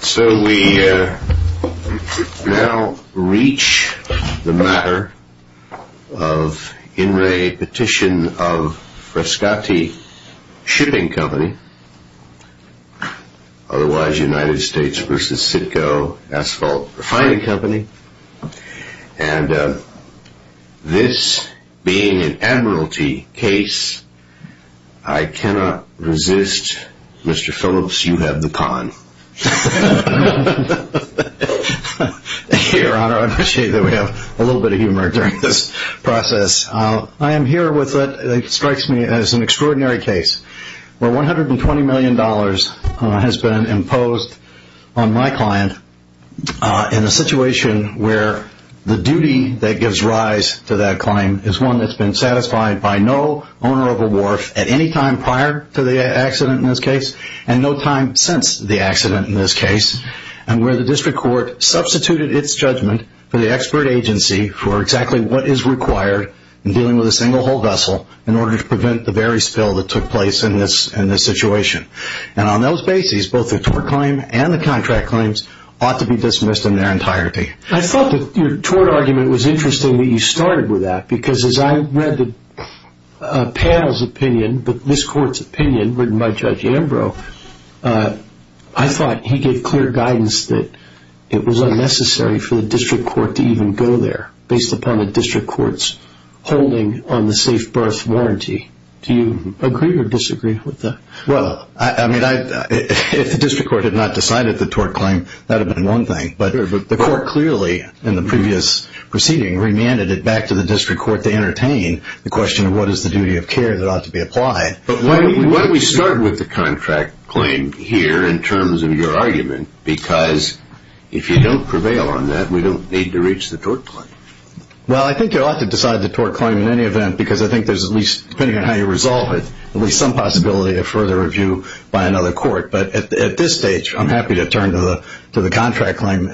So we now reach the matter of In Re Petition of Frescati Shipping Company, otherwise United States v. Sitco Asphalt Refining Company. And this being an admiralty case, I cannot resist, Mr. Phillips, you have the con. Your Honor, I appreciate that we have a little bit of humor during this process. I am here with what strikes me as an extraordinary case where $120 million has been imposed on my client in a situation where the duty that gives rise to that claim is one that's been satisfied by no owner of a wharf at any time prior to the accident in this case and no time since the accident in this case and where the district court substituted its judgment for the expert agency for exactly what is required in dealing with a single-hull vessel in order to prevent the very spill that took place in this situation. And on those bases, both the tort claim and the contract claims ought to be dismissed in their entirety. I thought that your tort argument was interesting that you started with that because as I read the panel's opinion, but this court's opinion written by Judge Ambrose, I thought he gave clear guidance that it was unnecessary for the district court to even go there based upon the district court's holding on the safe berth warranty. Do you agree or disagree with that? Well, I mean, if the district court had not decided the tort claim, that would have been one thing. But the court clearly in the previous proceeding remanded it back to the district court to entertain the question of what is the duty of care that ought to be applied. But why don't we start with the contract claim here in terms of your argument? Because if you don't prevail on that, we don't need to reach the tort claim. Well, I think you ought to decide the tort claim in any event because I think there's at least, depending on how you resolve it, at least some possibility of further review by another court. But at this stage, I'm happy to turn to the contract claim,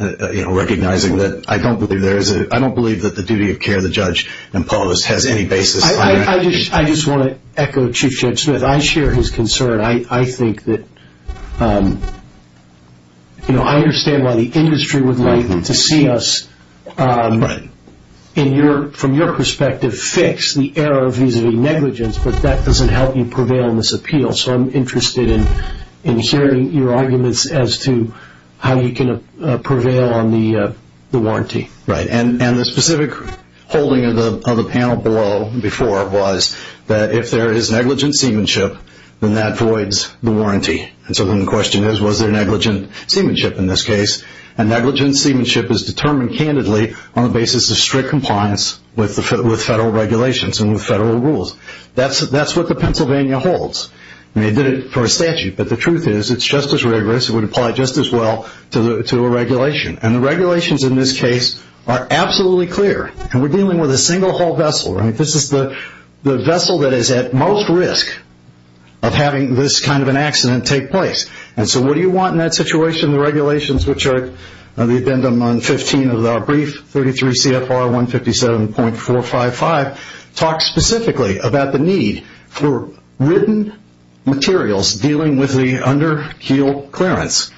recognizing that I don't believe that the duty of care the judge imposed has any basis on that. I just want to echo Chief Judge Smith. I share his concern. I think that, you know, I understand why the industry would like to see us, from your perspective, fix the error vis-a-vis negligence, but that doesn't help you prevail in this appeal. So I'm interested in hearing your arguments as to how you can prevail on the warranty. Right. And the specific holding of the panel below before was that if there is negligent seamanship, then that voids the warranty. So then the question is, was there negligent seamanship in this case? And negligent seamanship is determined candidly on the basis of strict compliance with federal regulations and with federal rules. That's what the Pennsylvania holds. They did it for statute. But the truth is, it's just as rigorous. It would apply just as well to a regulation. And the regulations in this case are absolutely clear. And we're dealing with a single-haul vessel, right? This is the vessel that is at most risk of having this kind of an accident take place. And so what do you want in that situation? The regulations, which are the addendum on 15 of the brief, 33 CFR 157.455, talk specifically about the need for written materials dealing with the under keel clearance.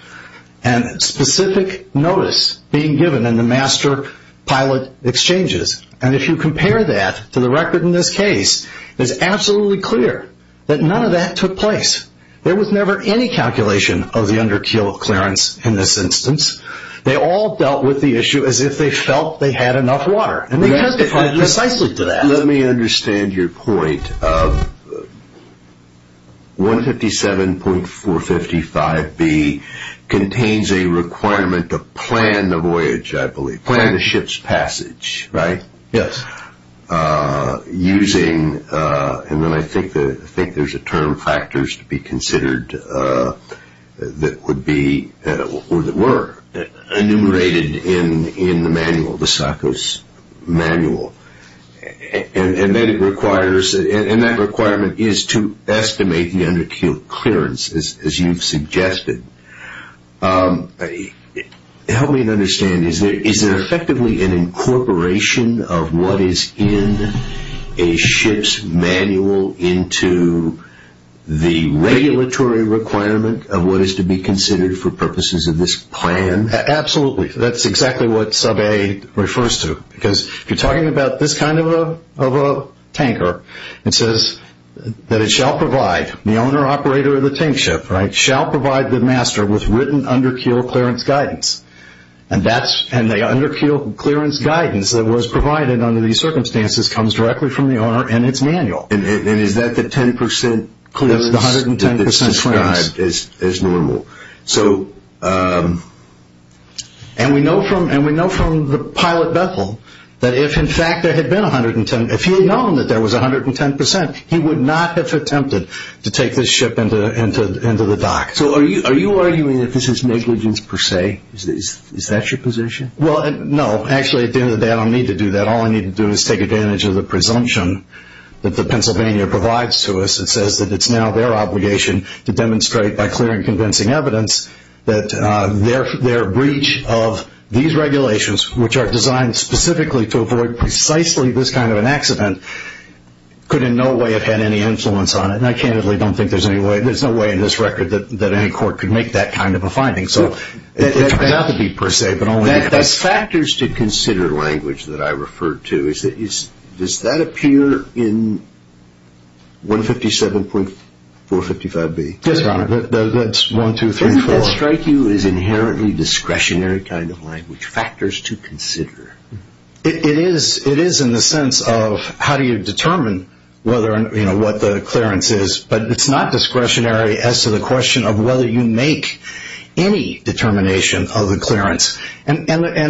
And specific notice being given in the master pilot exchanges. And if you compare that to the record in this case, it's absolutely clear that none of that took place. There was never any calculation of the under keel clearance in this instance. They all dealt with the issue as if they felt they had enough water. Let me understand your point. 157.455B contains a requirement to plan the voyage, I believe. Plan the ship's passage, right? Yes. Using, and then I think there's a term, factors to be considered that would be, or that were enumerated in the manual, the SACOs. Manual. And then it requires, and that requirement is to estimate the under keel clearance, as you've suggested. Help me to understand, is there effectively an incorporation of what is in a ship's manual into the regulatory requirement of what is to be considered for purposes of this plan? Absolutely. That's exactly what sub A refers to. Because if you're talking about this kind of a tanker, it says that it shall provide, the owner operator of the tank ship, shall provide the master with written under keel clearance guidance. And the under keel clearance guidance that was provided under these circumstances comes directly from the owner in its manual. And is that the 10% clearance that's described as normal? And we know from the pilot Bethel that if in fact there had been 110, if he had known that there was 110%, he would not have attempted to take this ship into the dock. So are you arguing that this is negligence per se? Is that your position? Well, no. Actually, at the end of the day, I don't need to do that. All I need to do is take advantage of the presumption that the Pennsylvania provides to us. It says that it's now their obligation to demonstrate by clear and convincing evidence that their breach of these regulations, which are designed specifically to avoid precisely this kind of an accident, could in no way have had any influence on it. And I candidly don't think there's any way, there's no way in this record that any court could make that kind of a finding. So it turns out to be per se, but only in practice. That factors to consider language that I referred to. Does that appear in 157.455B? Yes, Your Honor. That's 1234. Doesn't that strike you as inherently discretionary kind of language? Factors to consider. It is in the sense of how do you determine what the clearance is, but it's not discretionary as to the question of whether you make any determination of the clearance. I'm sorry,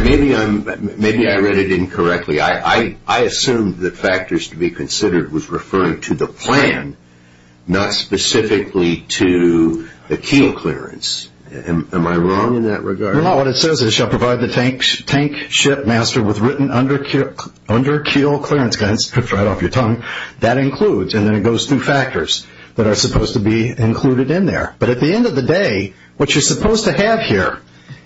maybe I read it incorrectly. I assumed that factors to be considered was referring to the plan, not specifically to the keel clearance. Am I wrong in that regard? No, Your Honor. What it says is, shall provide the tank ship master with written under keel clearance guidance. That includes, and then it goes through factors that are supposed to be included in there. But at the end of the day, what you're supposed to have here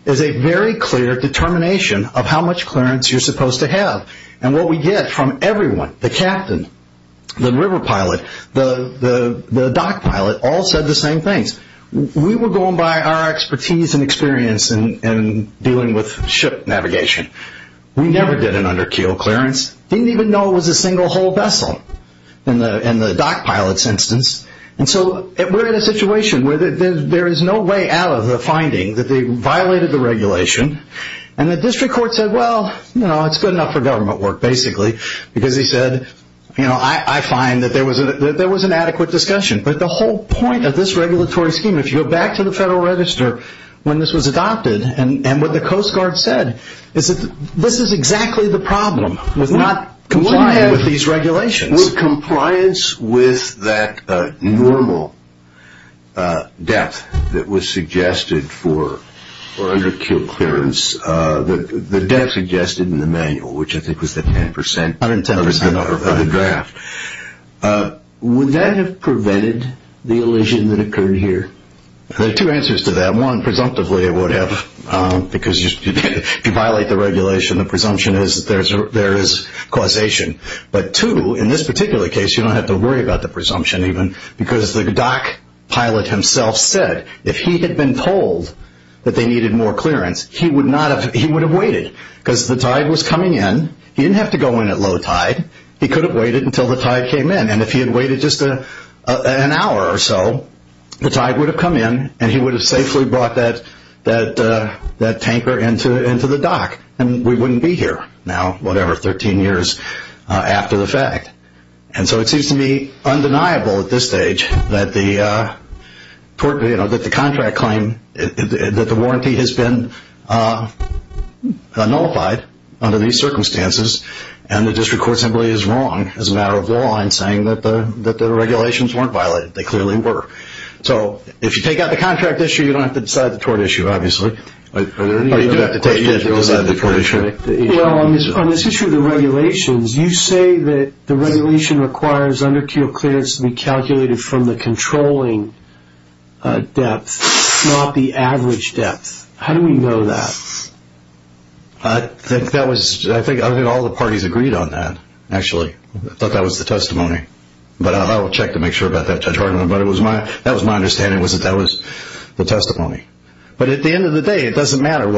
is a very clear determination of how much clearance you're supposed to have. And what we get from everyone, the captain, the river pilot, the dock pilot, all said the same things. We were going by our expertise and experience in dealing with ship navigation. We never did an under keel clearance. Didn't even know it was a single hull vessel in the dock pilot's instance. And so we're in a situation where there is no way out of the finding that they violated the regulation. And the district court said, well, you know, it's good enough for government work, basically, because he said, you know, I find that there was an adequate discussion. But the whole point of this regulatory scheme, if you go back to the Federal Register when this was adopted, and what the Coast Guard said is that this is exactly the problem with not complying with these regulations. With compliance with that normal depth that was suggested for under keel clearance, the depth suggested in the manual, which I think was the 10 percent of the draft. Would that have prevented the elision that occurred here? There are two answers to that. One, presumptively it would have. Because if you violate the regulation, the presumption is that there is causation. But two, in this particular case, you don't have to worry about the presumption even. Because the dock pilot himself said if he had been told that they needed more clearance, he would have waited. Because the tide was coming in. He didn't have to go in at low tide. He could have waited until the tide came in. And if he had waited just an hour or so, the tide would have come in and he would have safely brought that tanker into the dock. And we wouldn't be here now, whatever, 13 years after the fact. And so it seems to me undeniable at this stage that the contract claim, that the warranty has been nullified under these circumstances. And the district court simply is wrong as a matter of law in saying that the regulations weren't violated. They clearly were. So if you take out the contract issue, you don't have to decide the tort issue, obviously. Are there any other questions? Well, on this issue of the regulations, you say that the regulation requires under keel clearance to be calculated from the controlling depth, not the average depth. How do we know that? I think all the parties agreed on that, actually. I thought that was the testimony. But I will check to make sure about that, Judge Hartman. But that was my understanding, that that was the testimony. But at the end of the day, it doesn't matter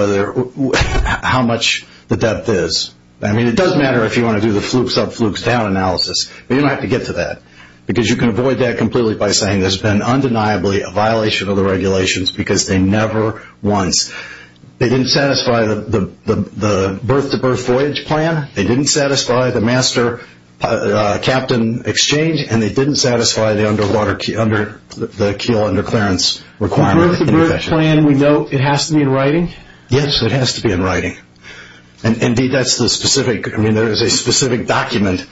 how much the depth is. I mean, it does matter if you want to do the flukes up, flukes down analysis. But you don't have to get to that. Because you can avoid that completely by saying there's been undeniably a violation of the regulations because they never once, they didn't satisfy the birth-to-birth voyage plan. They didn't satisfy the master-captain exchange. And they didn't satisfy the keel under clearance requirement. The birth-to-birth plan, we know it has to be in writing? Yes, it has to be in writing. Indeed, that's the specific, I mean, there is a specific document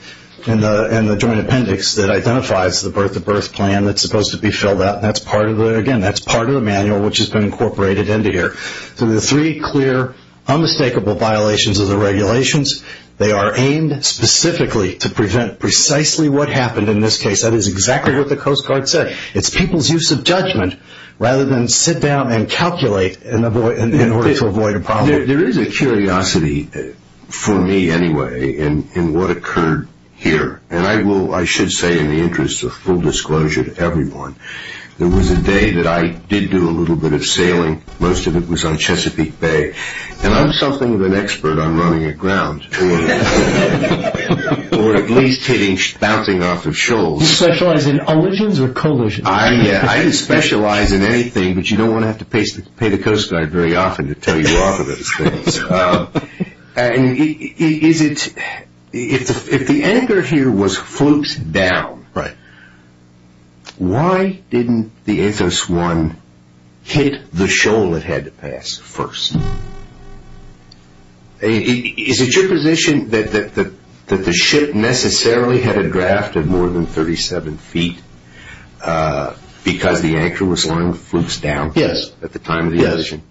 in the joint appendix that identifies the birth-to-birth plan that's supposed to be filled out. And, again, that's part of the manual which has been incorporated into here. So the three clear, unmistakable violations of the regulations, they are aimed specifically to prevent precisely what happened in this case. That is exactly what the Coast Guard said. It's people's use of judgment rather than sit down and calculate in order to avoid a problem. There is a curiosity, for me anyway, in what occurred here. And I will, I should say in the interest of full disclosure to everyone, there was a day that I did do a little bit of sailing. Most of it was on Chesapeake Bay. And I'm something of an expert on running aground. Or at least hitting, bouncing off of shoals. Do you specialize in collisions or collisions? I didn't specialize in anything, but you don't want to have to pay the Coast Guard very often to tell you off of those things. And is it, if the anchor here was fluked down, why didn't the Anthos 1 hit the shoal it had to pass first? Is it your position that the ship necessarily had a draft of more than 37 feet because the anchor was flunked down at the time of the accident?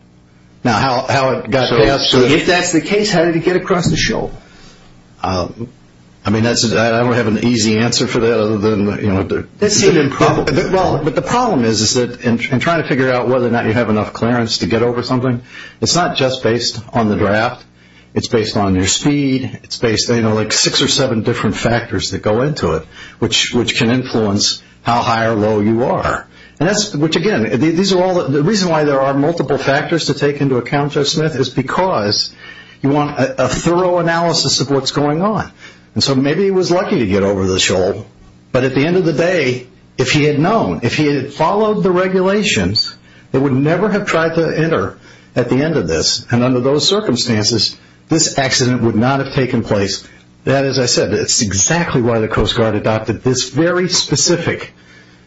Now, how it got passed. If that's the case, how did it get across the shoal? I mean, I don't have an easy answer for that other than, you know. But the problem is that in trying to figure out whether or not you have enough clearance to get over something, it's not just based on the draft. It's based on your speed. It's based on, you know, like six or seven different factors that go into it, which can influence how high or low you are. The reason why there are multiple factors to take into account, Judge Smith, is because you want a thorough analysis of what's going on. And so maybe he was lucky to get over the shoal, but at the end of the day, if he had known, if he had followed the regulations, it would never have tried to enter at the end of this. And under those circumstances, this accident would not have taken place. That, as I said, is exactly why the Coast Guard adopted this very specific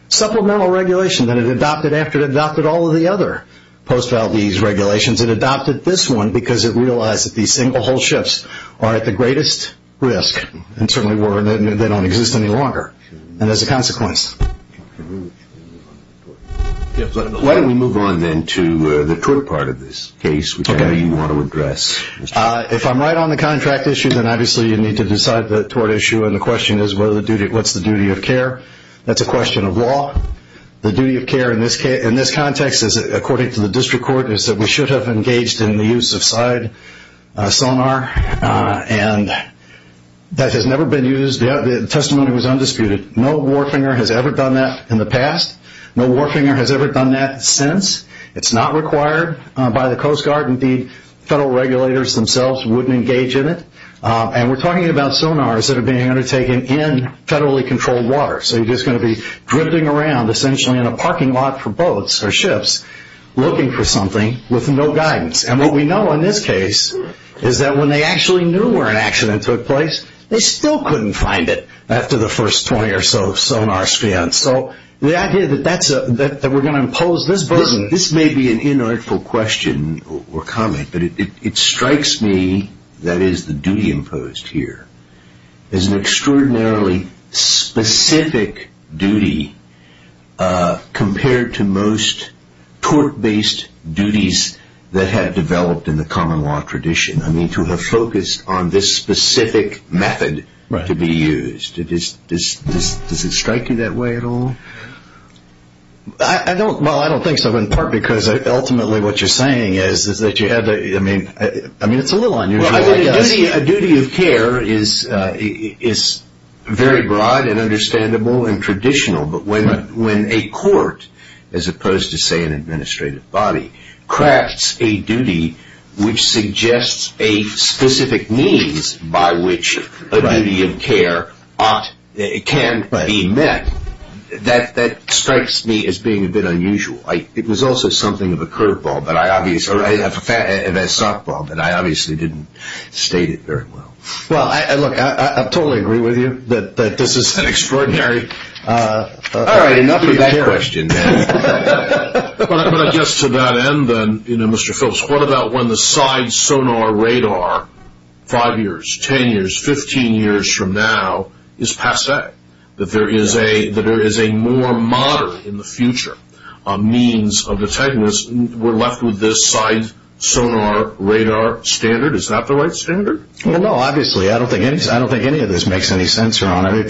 supplemental regulation that it adopted after it adopted all of the other post-valdez regulations. It adopted this one because it realized that these single-hull ships are at the greatest risk and certainly they don't exist any longer, and as a consequence. Why don't we move on then to the trick part of this case, which I know you want to address. If I'm right on the contract issue, then obviously you need to decide the tort issue, and the question is what's the duty of care? That's a question of law. The duty of care in this context, according to the district court, is that we should have engaged in the use of side sonar, and that has never been used. The testimony was undisputed. No warfinger has ever done that in the past. No warfinger has ever done that since. It's not required by the Coast Guard. The federal regulators themselves wouldn't engage in it, and we're talking about sonars that are being undertaken in federally controlled water. So you're just going to be drifting around essentially in a parking lot for boats or ships looking for something with no guidance, and what we know in this case is that when they actually knew where an accident took place, they still couldn't find it after the first 20 or so sonar scans. So the idea that we're going to impose this burden. This may be an inartful question or comment, but it strikes me that it is the duty imposed here is an extraordinarily specific duty compared to most tort-based duties that have developed in the common law tradition. I mean to have focused on this specific method to be used. Does it strike you that way at all? Well, I don't think so, in part because ultimately what you're saying is that you have to, I mean it's a little unusual I guess. A duty of care is very broad and understandable and traditional, but when a court, as opposed to say an administrative body, crafts a duty which suggests a specific means by which a duty of care can be met, that strikes me as being a bit unusual. It was also something of a curveball, a softball, but I obviously didn't state it very well. Well, look, I totally agree with you that this is an extraordinary. All right, enough of that question then. But I guess to that end then, you know, Mr. Phillips, what about when the side sonar radar five years, ten years, fifteen years from now is passé, that there is a more modern in the future means of detainment. We're left with this side sonar radar standard. Is that the right standard? Well, no, obviously. If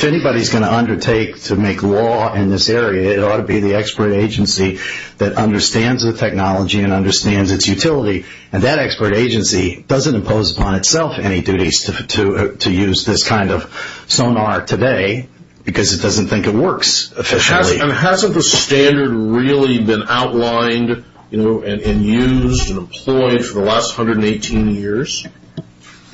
anybody is going to undertake to make law in this area, it ought to be the expert agency that understands the technology and understands its utility, and that expert agency doesn't impose upon itself any duties to use this kind of sonar today because it doesn't think it works officially. And hasn't the standard really been outlined and used and employed for the last 118 years?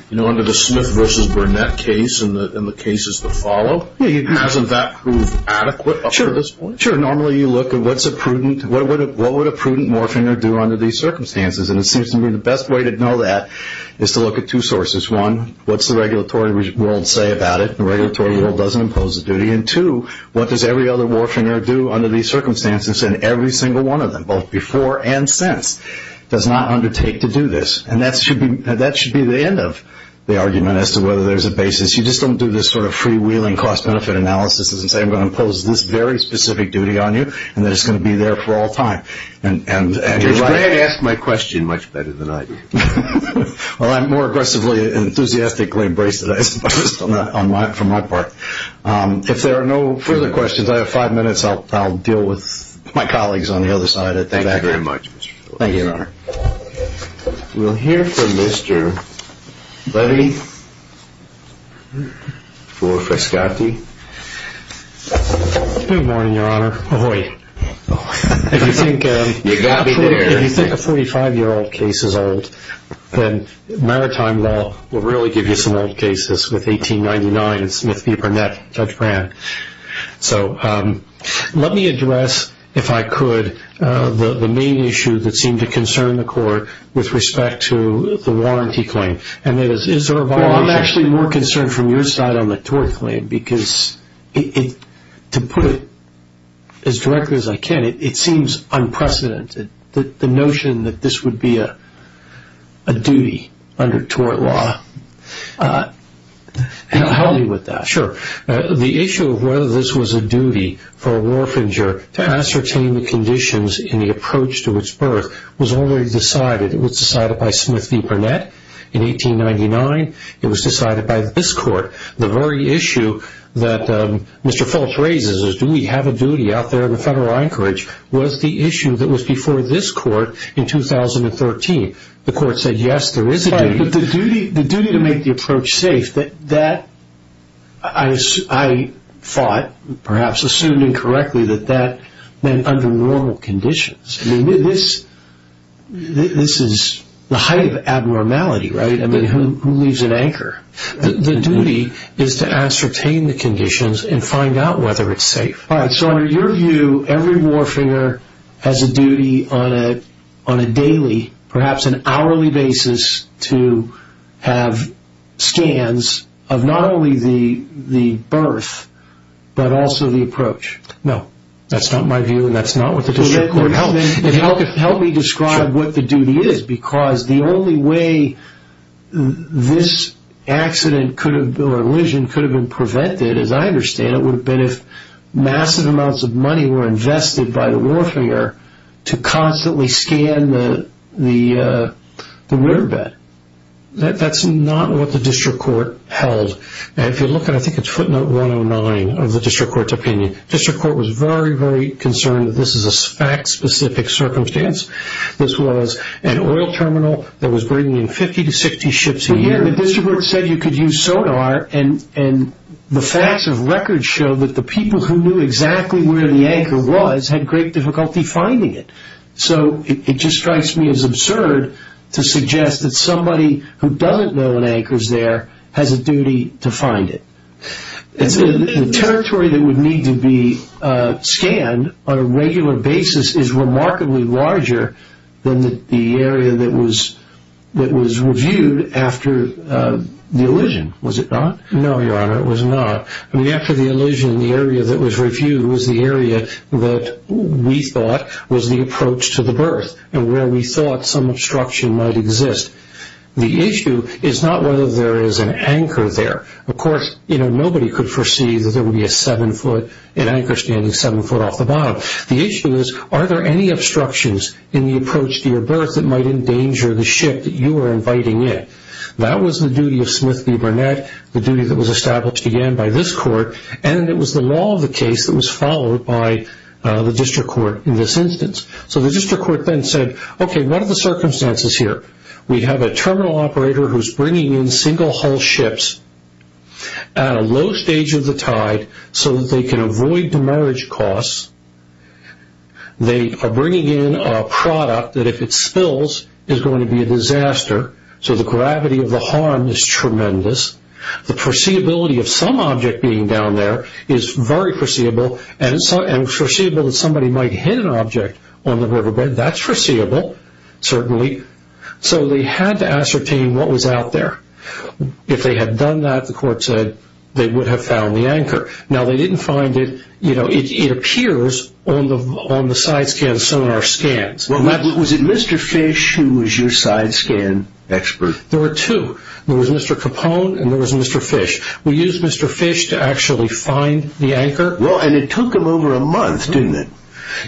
You know, under the Smith v. Burnett case and the cases that follow, hasn't that proved adequate up to this point? Sure, normally you look at what's a prudent, what would a prudent warfinger do under these circumstances? And it seems to me the best way to know that is to look at two sources. One, what's the regulatory world say about it? The regulatory world doesn't impose a duty. And two, what does every other warfinger do under these circumstances and every single one of them, both before and since, does not undertake to do this? And that should be the end of the argument as to whether there's a basis. You just don't do this sort of freewheeling cost-benefit analysis and say I'm going to impose this very specific duty on you and that it's going to be there for all time. Judge, Greg asked my question much better than I did. Well, I'm more aggressively and enthusiastically embraced it, I suppose, for my part. If there are no further questions, I have five minutes. Thank you very much. Thank you, Your Honor. We'll hear from Mr. Levy for Frascati. Good morning, Your Honor. Ahoy. If you think a 45-year-old case is old, then maritime law will really give you some old cases with 1899 and Smith v. Burnett, Judge Brand. So let me address, if I could, the main issue that seemed to concern the Court with respect to the warranty claim. And that is, is there a violation? Well, I'm actually more concerned from your side on the tort claim because to put it as directly as I can, it seems unprecedented, the notion that this would be a duty under tort law. Help me with that. Sure. The issue of whether this was a duty for a warfinger to ascertain the conditions in the approach to its birth was already decided. It was decided by Smith v. Burnett in 1899. It was decided by this Court. The very issue that Mr. Phillips raises, is do we have a duty out there in the Federal Anchorage, was the issue that was before this Court in 2013. The Court said, yes, there is a duty. But the duty to make the approach safe, that I thought, perhaps assumed incorrectly, that that meant under normal conditions. I mean, this is the height of abnormality, right? I mean, who leaves an anchor? The duty is to ascertain the conditions and find out whether it's safe. All right, so in your view, every warfinger has a duty on a daily, perhaps an hourly basis, to have scans of not only the birth, but also the approach. No, that's not my view, and that's not what the District Court held. Help me describe what the duty is because the only way this accident or lesion could have been prevented, as I understand it, would have been if massive amounts of money were invested by the warfinger to constantly scan the rear bed. That's not what the District Court held. If you look at, I think it's footnote 109 of the District Court's opinion, the District Court was very, very concerned that this is a fact-specific circumstance. This was an oil terminal that was bringing in 50 to 60 ships a year. The District Court said you could use sonar, and the facts of record show that the people who knew exactly where the anchor was had great difficulty finding it. So it just strikes me as absurd to suggest that somebody who doesn't know an anchor is there has a duty to find it. The territory that would need to be scanned on a regular basis is remarkably larger than the area that was reviewed after the lesion, was it not? No, Your Honor, it was not. After the lesion, the area that was reviewed was the area that we thought was the approach to the berth and where we thought some obstruction might exist. The issue is not whether there is an anchor there. Of course, nobody could foresee that there would be an anchor standing seven foot off the bottom. The issue is, are there any obstructions in the approach to your berth that might endanger the ship that you are inviting in? That was the duty of Smith v. Burnett, the duty that was established again by this court, and it was the law of the case that was followed by the District Court in this instance. So the District Court then said, okay, what are the circumstances here? We have a terminal operator who is bringing in single-hull ships at a low stage of the tide so that they can avoid demerge costs. They are bringing in a product that if it spills is going to be a disaster, so the gravity of the harm is tremendous. The foreseeability of some object being down there is very foreseeable, and it's foreseeable that somebody might hit an object on the riverbed. That's foreseeable, certainly. So they had to ascertain what was out there. If they had done that, the court said, they would have found the anchor. Now they didn't find it. It appears on the side scans, some of our scans. Was it Mr. Fish who was your side scan expert? There were two. There was Mr. Capone and there was Mr. Fish. We used Mr. Fish to actually find the anchor. And it took him over a month, didn't it?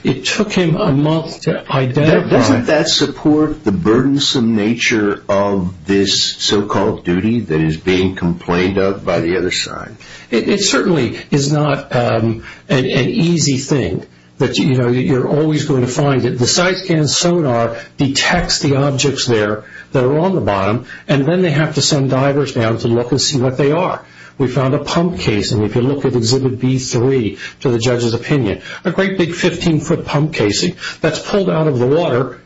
It took him a month to identify. Doesn't that support the burdensome nature of this so-called duty that is being complained of by the other side? It certainly is not an easy thing. You're always going to find it. The side scan sonar detects the objects there that are on the bottom, and then they have to send divers down to look and see what they are. We found a pump case, and if you look at Exhibit B3, to the judge's opinion, a great big 15-foot pump casing that's pulled out of the water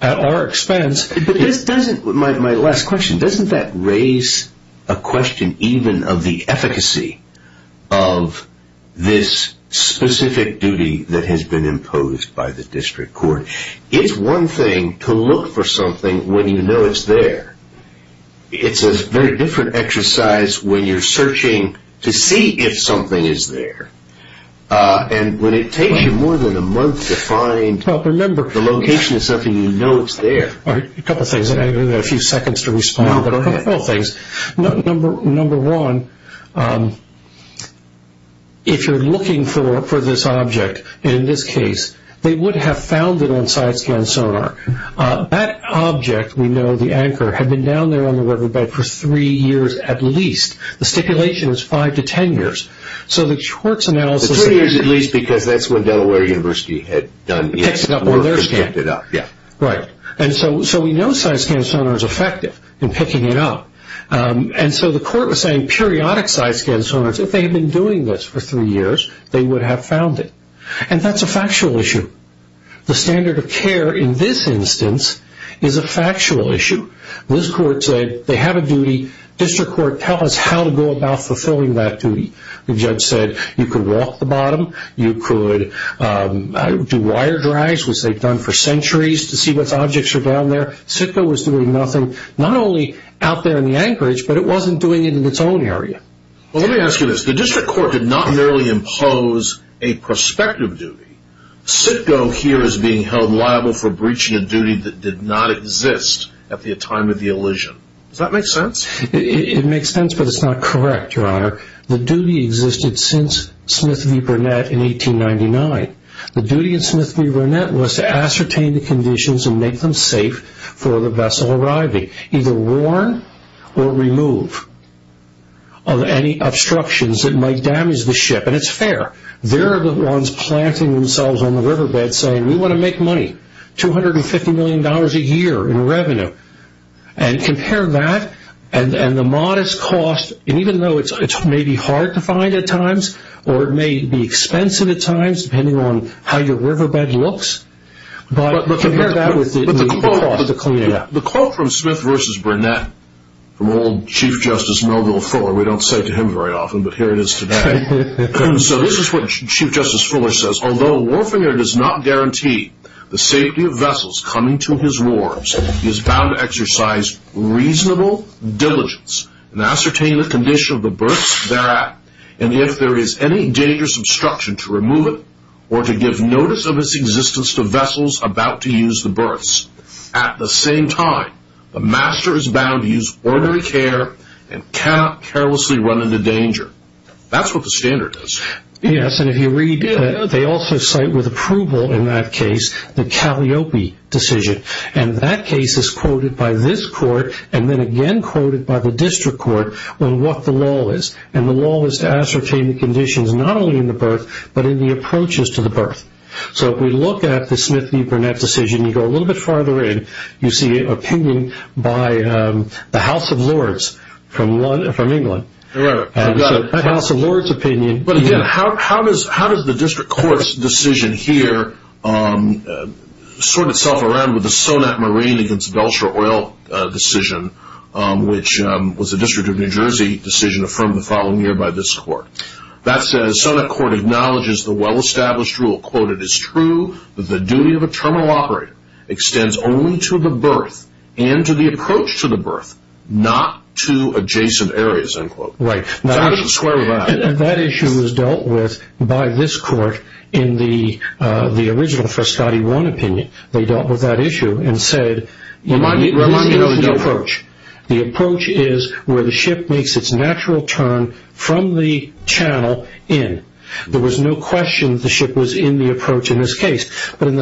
at our expense. My last question, doesn't that raise a question even of the efficacy of this specific duty that has been imposed by the district court? It's one thing to look for something when you know it's there. It's a very different exercise when you're searching to see if something is there. And when it takes you more than a month to find the location of something, you know it's there. A couple of things, and I've got a few seconds to respond, but a couple of things. Number one, if you're looking for this object, in this case, they would have found it on side scan sonar. That object, we know, the anchor, had been down there on the riverbed for three years at least. The stipulation is five to ten years. Three years at least because that's when Delaware University had picked it up. So we know side scan sonar is effective in picking it up. And so the court was saying periodic side scan sonar, if they had been doing this for three years, they would have found it. And that's a factual issue. The standard of care in this instance is a factual issue. This court said they have a duty. District court, tell us how to go about fulfilling that duty. The judge said you could walk the bottom. You could do wire drives, which they've done for centuries, to see what objects are down there. CITCO was doing nothing, not only out there in the anchorage, but it wasn't doing it in its own area. Well, let me ask you this. The district court did not merely impose a prospective duty. CITCO here is being held liable for breaching a duty that did not exist at the time of the elision. Does that make sense? It makes sense, but it's not correct, Your Honor. The duty existed since Smith v. Burnett in 1899. The duty in Smith v. Burnett was to ascertain the conditions and make them safe for the vessel arriving, either warn or remove any obstructions that might damage the ship, and it's fair. They're the ones planting themselves on the riverbed saying we want to make money, $250 million a year in revenue, and compare that and the modest cost, and even though it may be hard to find at times or it may be expensive at times, depending on how your riverbed looks, but compare that with the cost of the cleanup. The quote from Smith v. Burnett from old Chief Justice Melville Fuller, we don't say to him very often, but here it is today. So this is what Chief Justice Fuller says. Although a warfinger does not guarantee the safety of vessels coming to his wars, he is bound to exercise reasonable diligence and ascertain the condition of the berths thereat, and if there is any dangerous obstruction, to remove it or to give notice of its existence to vessels about to use the berths. At the same time, the master is bound to use ordinary care and cannot carelessly run into danger. That's what the standard is. Yes, and if you read, they also cite with approval in that case the Cagliopi decision, and that case is quoted by this court and then again quoted by the district court on what the law is, and the law is to ascertain the conditions not only in the berth, but in the approaches to the berth. So if we look at the Smith v. Burnett decision, you go a little bit farther in, you see opinion by the House of Lords from England. I got it. House of Lords' opinion. But again, how does the district court's decision here sort itself around with the Sonat Marine against Belcher Oil decision, which was a District of New Jersey decision affirmed the following year by this court? That says, Sonat Court acknowledges the well-established rule, quote, it is true that the duty of a terminal operator extends only to the berth and to the approach to the berth, not to adjacent areas, end quote. Right. That issue was dealt with by this court in the original Frascati 1 opinion. They dealt with that issue and said, remind me of the approach. The approach is where the ship makes its natural turn from the channel in. There was no question that the ship was in the approach in this case, and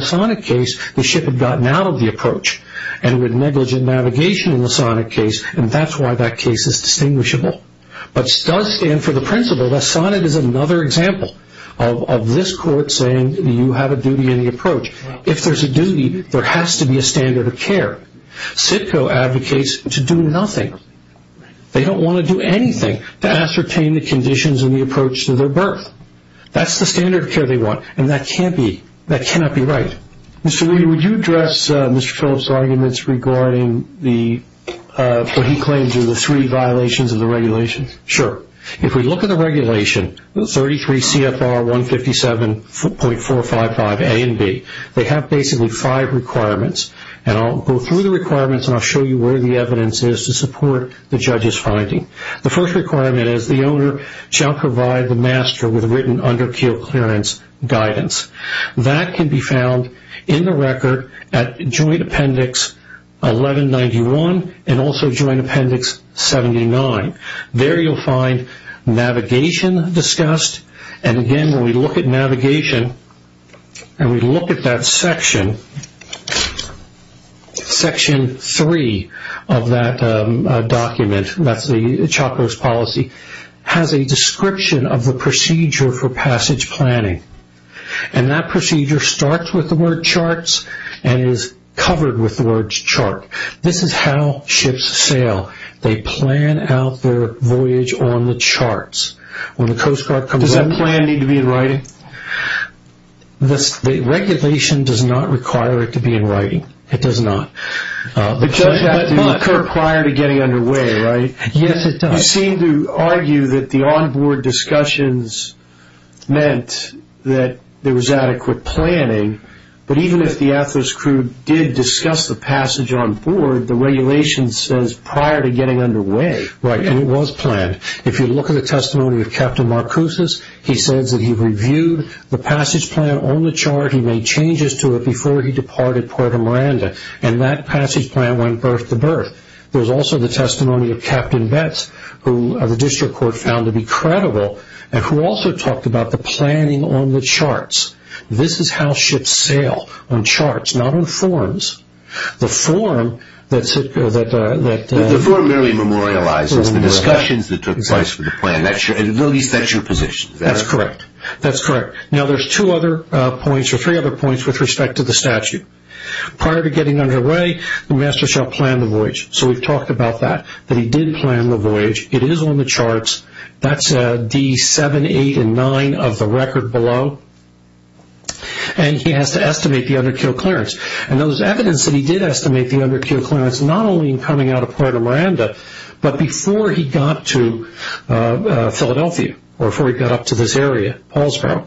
with negligent navigation in the Sonat case, and that's why that case is distinguishable. But it does stand for the principle that Sonat is another example of this court saying you have a duty in the approach. If there's a duty, there has to be a standard of care. CITCO advocates to do nothing. They don't want to do anything to ascertain the conditions in the approach to their berth. That's the standard of care they want, and that cannot be right. Mr. Reed, would you address Mr. Phillips' arguments regarding what he claims are the three violations of the regulations? Sure. If we look at the regulation, 33 CFR 157.455 A and B, they have basically five requirements, and I'll go through the requirements and I'll show you where the evidence is to support the judge's finding. The first requirement is the owner shall provide the master with written under keel clearance guidance. That can be found in the record at Joint Appendix 1191 and also Joint Appendix 79. There you'll find navigation discussed, and again, when we look at navigation and we look at that section, Section 3 of that document, that's the chopper's policy, has a description of the procedure for passage planning, and that procedure starts with the word charts and is covered with the word chart. This is how ships sail. They plan out their voyage on the charts. Does that plan need to be in writing? The regulation does not require it to be in writing. It does not. But it does have to occur prior to getting underway, right? Yes, it does. You seem to argue that the onboard discussions meant that there was adequate planning, but even if the athletics crew did discuss the passage onboard, the regulation says prior to getting underway. Right, and it was planned. If you look at the testimony of Captain Marcuse, he says that he reviewed the passage plan on the chart. He made changes to it before he departed Puerto Miranda, and that passage plan went birth to birth. There's also the testimony of Captain Betts, who the district court found to be credible, and who also talked about the planning on the charts. This is how ships sail on charts, not on forms. The form merely memorializes the discussions that took place for the plan. At the very least, that's your position. That's correct. That's correct. Now there's two other points, or three other points, with respect to the statute. Prior to getting underway, the master shall plan the voyage. So we've talked about that, that he did plan the voyage. It is on the charts. That's D7, 8, and 9 of the record below. And he has to estimate the underkill clearance. And there was evidence that he did estimate the underkill clearance, not only in coming out of Puerto Miranda, but before he got to Philadelphia, or before he got up to this area, Paulsboro.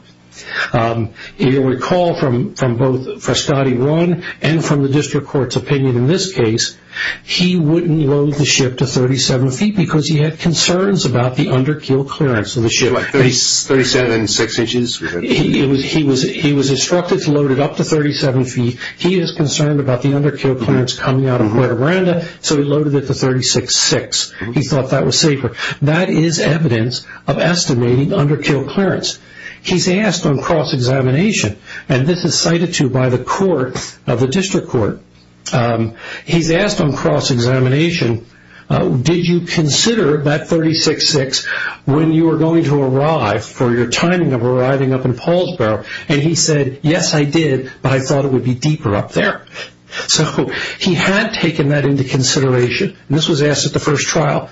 You'll recall from both Frascati 1 and from the district court's opinion in this case, he wouldn't load the ship to 37 feet because he had concerns about the underkill clearance of the ship. Like 37 six inches? He was instructed to load it up to 37 feet. He was concerned about the underkill clearance coming out of Puerto Miranda, so he loaded it to 36 six. He thought that was safer. That is evidence of estimating underkill clearance. He's asked on cross-examination, and this is cited to by the court of the district court. He's asked on cross-examination, did you consider that 36 six when you were going to arrive for your timing of arriving up in Paulsboro? And he said, yes, I did, but I thought it would be deeper up there. So he had taken that into consideration, and this was asked at the first trial.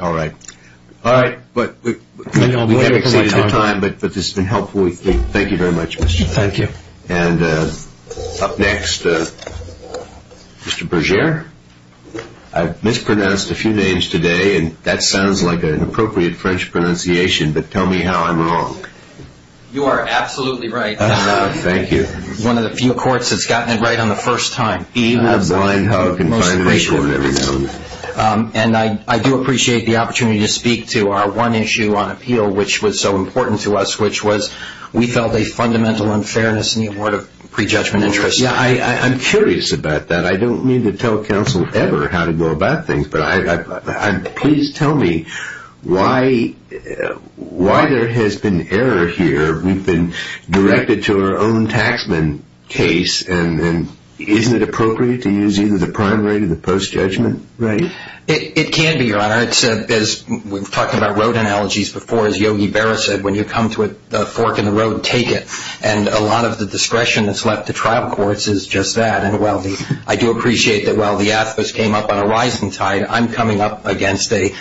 All right. All right. But we haven't exceeded the time, but this has been helpful. Thank you very much, Mr. Levin. Thank you. And up next, Mr. Berger. I've mispronounced a few names today, and that sounds like an appropriate French pronunciation, but tell me how I'm wrong. You are absolutely right. Thank you. One of the few courts that's gotten it right on the first time. Even a blind hug in front of a court every now and then. And I do appreciate the opportunity to speak to our one issue on appeal which was so important to us, which was we felt a fundamental unfairness in the award of prejudgment interest. Yeah, I'm curious about that. I don't mean to tell counsel ever how to go about things, but please tell me why there has been error here. We've been directed to our own taxman case, and isn't it appropriate to use either the prime rate or the post-judgment rate? It can be, Your Honor. As we've talked about road analogies before, as Yogi Berra said, when you come to a fork in the road, take it. And a lot of the discretion that's left to trial courts is just that. I do appreciate that while the athos came up on a rising tide, I'm coming up against a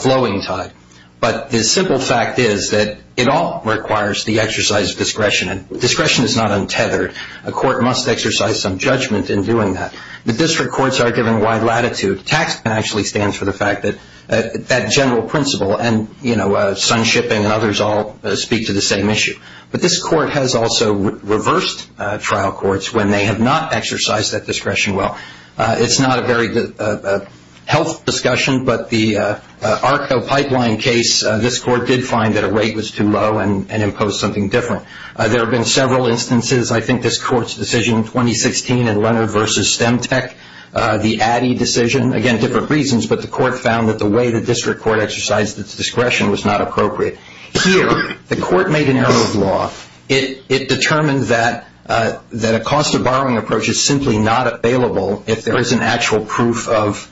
flowing tide. But the simple fact is that it all requires the exercise of discretion. And discretion is not untethered. A court must exercise some judgment in doing that. The district courts are given wide latitude. Taxman actually stands for the fact that that general principle and, you know, sunshipping and others all speak to the same issue. But this court has also reversed trial courts when they have not exercised that discretion well. It's not a very health discussion, but the ARCO pipeline case, this court did find that a rate was too low and imposed something different. There have been several instances. I think this court's decision in 2016 in Leonard v. Stemtech, the Addy decision, again, different reasons, but the court found that the way the district court exercised its discretion was not appropriate. Here, the court made an error of law. It determined that a cost of borrowing approach is simply not available if there isn't actual proof of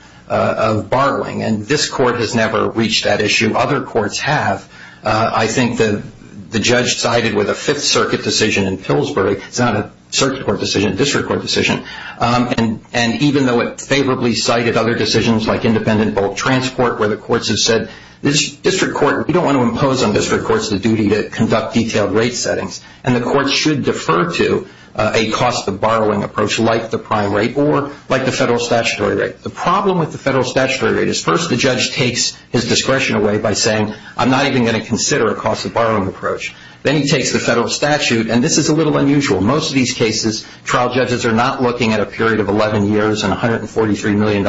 borrowing. And this court has never reached that issue. Other courts have. I think the judge sided with a Fifth Circuit decision in Pillsbury. It's not a circuit court decision, a district court decision. And even though it favorably sided other decisions like independent bulk transport where the courts have said, this district court, we don't want to impose on district courts the duty to conduct detailed rate settings, and the courts should defer to a cost of borrowing approach like the prime rate or like the federal statutory rate. The problem with the federal statutory rate is first the judge takes his discretion away by saying, I'm not even going to consider a cost of borrowing approach. Then he takes the federal statute, and this is a little unusual. Most of these cases, trial judges are not looking at a period of 11 years and $143 million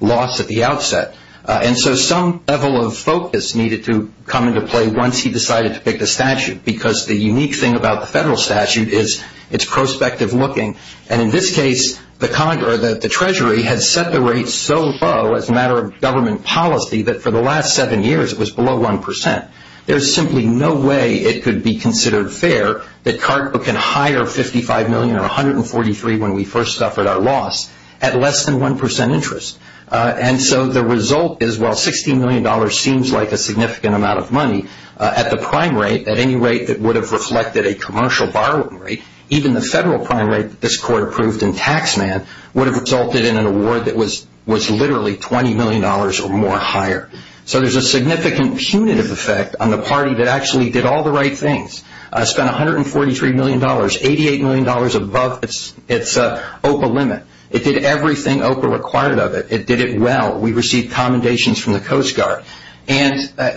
loss at the outset. And so some level of focus needed to come into play once he decided to pick the statute because the unique thing about the federal statute is it's prospective looking. And in this case, the Treasury had set the rate so low as a matter of government policy that for the last seven years, it was below 1%. There's simply no way it could be considered fair that Cargo can hire $55 million or $143 million when we first suffered our loss at less than 1% interest. And so the result is while $16 million seems like a significant amount of money, at the prime rate, at any rate that would have reflected a commercial borrowing rate, even the federal prime rate that this court approved in tax man would have resulted in an award that was literally $20 million or more higher. So there's a significant punitive effect on the party that actually did all the right things, spent $143 million, $88 million above its OPA limit. It did everything OPA required of it. It did it well. We received commendations from the Coast Guard. You spent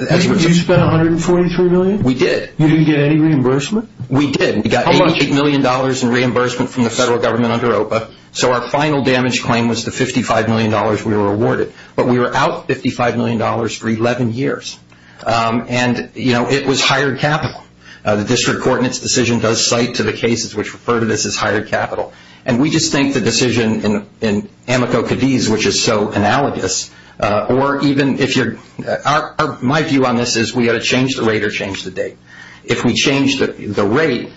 $143 million? We did. You didn't get any reimbursement? We did. We got $88 million in reimbursement from the federal government under OPA. So our final damage claim was the $55 million we were awarded. But we were out $55 million for 11 years. And, you know, it was hired capital. The district court in its decision does cite to the cases which refer to this as hired capital. And we just think the decision in Amico-Cadiz, which is so analogous, or even if you're my view on this is we ought to change the rate or change the date. If we change the rate,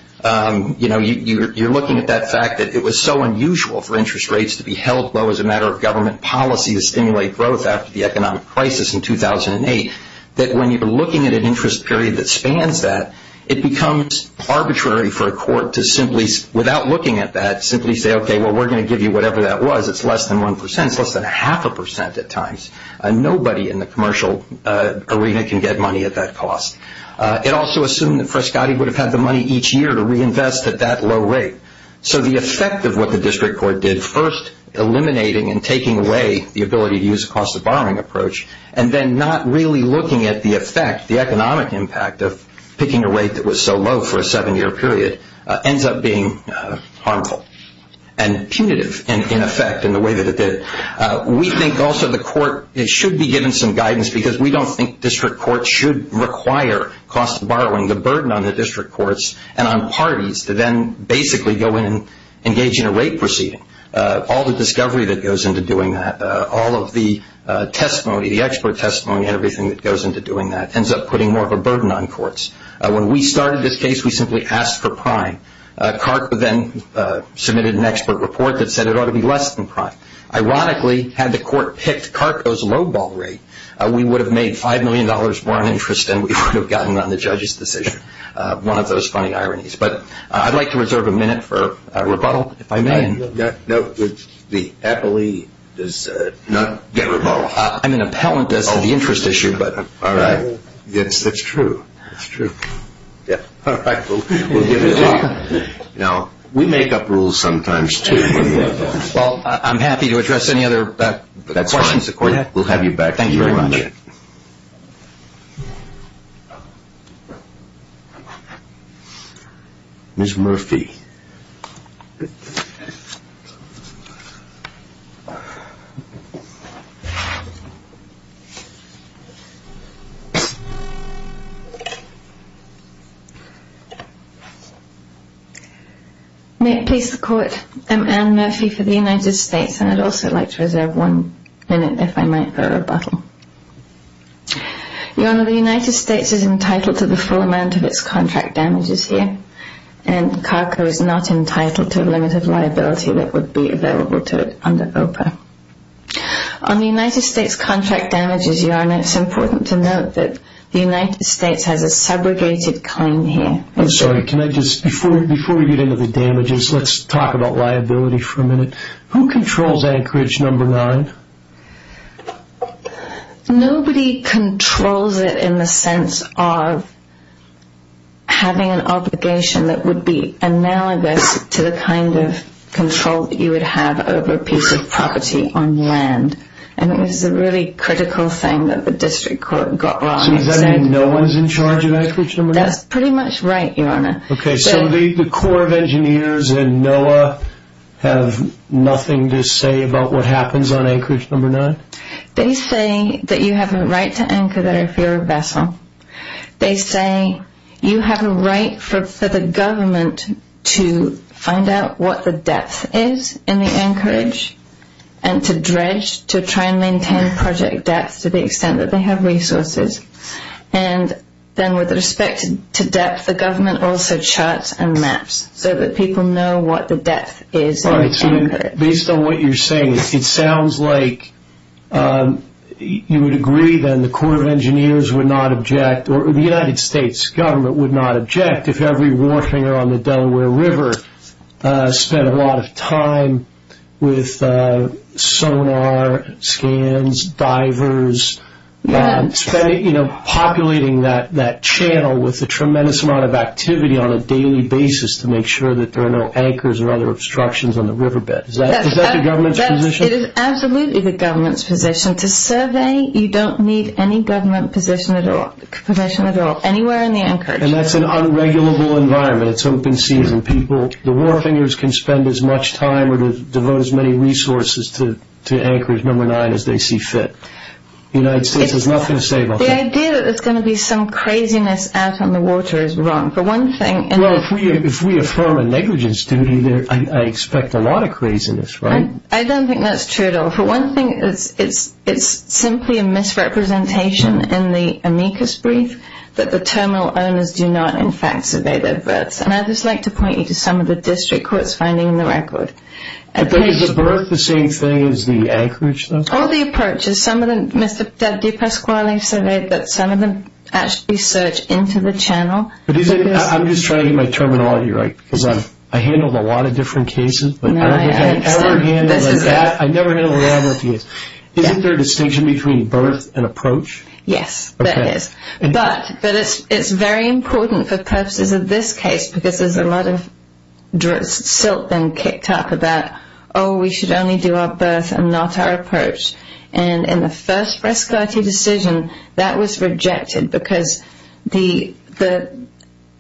you know, you're looking at that fact that it was so unusual for interest rates to be held low as a matter of government policy to stimulate growth after the economic crisis in 2008, that when you're looking at an interest period that spans that, it becomes arbitrary for a court to simply, without looking at that, simply say, okay, well, we're going to give you whatever that was. It's less than 1 percent. It's less than half a percent at times. Nobody in the commercial arena can get money at that cost. It also assumed that Frescati would have had the money each year to reinvest at that low rate. So the effect of what the district court did, first eliminating and taking away the ability to use a cost of borrowing approach, and then not really looking at the effect, the economic impact of picking a rate that was so low for a seven-year period, ends up being harmful and punitive in effect in the way that it did. We think also the court should be given some guidance because we don't think district courts should require cost of borrowing, the burden on the district courts and on parties to then basically go in and engage in a rate proceeding. All the discovery that goes into doing that, all of the testimony, the expert testimony, everything that goes into doing that ends up putting more of a burden on courts. When we started this case, we simply asked for prime. CARCO then submitted an expert report that said it ought to be less than prime. Ironically, had the court picked CARCO's low ball rate, we would have made $5 million more in interest than we would have gotten on the judge's decision, one of those funny ironies. But I'd like to reserve a minute for rebuttal if I may. No, the appellee does not get rebuttal. I'm an appellant. This is an interest issue. All right. Yes, that's true. That's true. All right. We'll give it to you. Now, we make up rules sometimes, too. Well, I'm happy to address any other questions. We'll have you back. Thank you very much. That's it. Ms. Murphy. May it please the Court, I'm Anne Murphy for the United States, and I'd also like to reserve one minute if I might for rebuttal. Your Honor, the United States is entitled to the full amount of its contract damages here, and CARCO is not entitled to a limit of liability that would be available to it under OPA. On the United States contract damages, Your Honor, it's important to note that the United States has a segregated claim here. I'm sorry, can I just, before we get into the damages, let's talk about liability for a minute. Who controls Anchorage No. 9? Nobody controls it in the sense of having an obligation that would be analogous to the kind of control that you would have over a piece of property on land, and it was a really critical thing that the district court got wrong. So does that mean no one is in charge of Anchorage No. 9? That's pretty much right, Your Honor. Okay, so the Corps of Engineers and NOAA have nothing to say about what happens on Anchorage No. 9? They say that you have a right to anchor there if you're a vessel. They say you have a right for the government to find out what the depth is in the anchorage and to dredge, to try and maintain project depth to the extent that they have resources. And then with respect to depth, the government also charts and maps so that people know what the depth is in the anchorage. All right, so based on what you're saying, it sounds like you would agree then the Corps of Engineers would not object, or the United States government would not object, if every war hanger on the Delaware River spent a lot of time with sonar scans, divers, populating that channel with a tremendous amount of activity on a daily basis to make sure that there are no anchors or other obstructions on the riverbed. Is that the government's position? It is absolutely the government's position. To survey, you don't need any government permission at all, anywhere in the anchorage. And that's an unregulable environment. It's open season. People, the war hangers can spend as much time or devote as many resources to Anchorage No. 9 as they see fit. The United States has nothing to say about that. The idea that there's going to be some craziness out on the water is wrong. Well, if we affirm a negligence duty, I expect a lot of craziness, right? I don't think that's true at all. For one thing, it's simply a misrepresentation in the amicus brief that the terminal owners do not, in fact, survey their berths. And I'd just like to point you to some of the district courts finding in the record. Is the berth the same thing as the anchorage, though? All the approaches, some of them, Mr. DePasquale surveyed that some of them actually search into the channel. I'm just trying to get my terminology right because I handled a lot of different cases. I never handled a lot of different cases. Isn't there a distinction between berth and approach? Yes, there is. But it's very important for purposes of this case because there's a lot of silt then kicked up about, oh, we should only do our berth and not our approach. And in the first Prescotti decision, that was rejected because the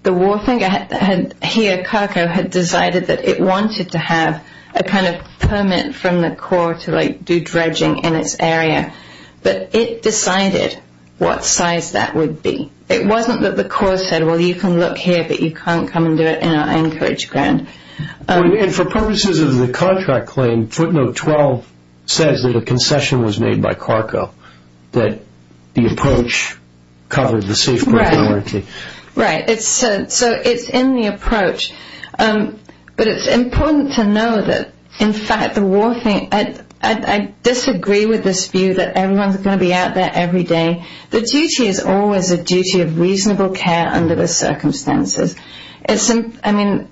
wharfing here, Carco, had decided that it wanted to have a kind of permit from the Corps to do dredging in its area. But it decided what size that would be. It wasn't that the Corps said, well, you can look here, but you can't come and do it in our anchorage ground. And for purposes of the contract claim, footnote 12 says that a concession was made by Carco, that the approach covered the safe berth warranty. Right. So it's in the approach. But it's important to know that, in fact, the wharfing, I disagree with this view that everyone's going to be out there every day. The duty is always a duty of reasonable care under the circumstances. I mean,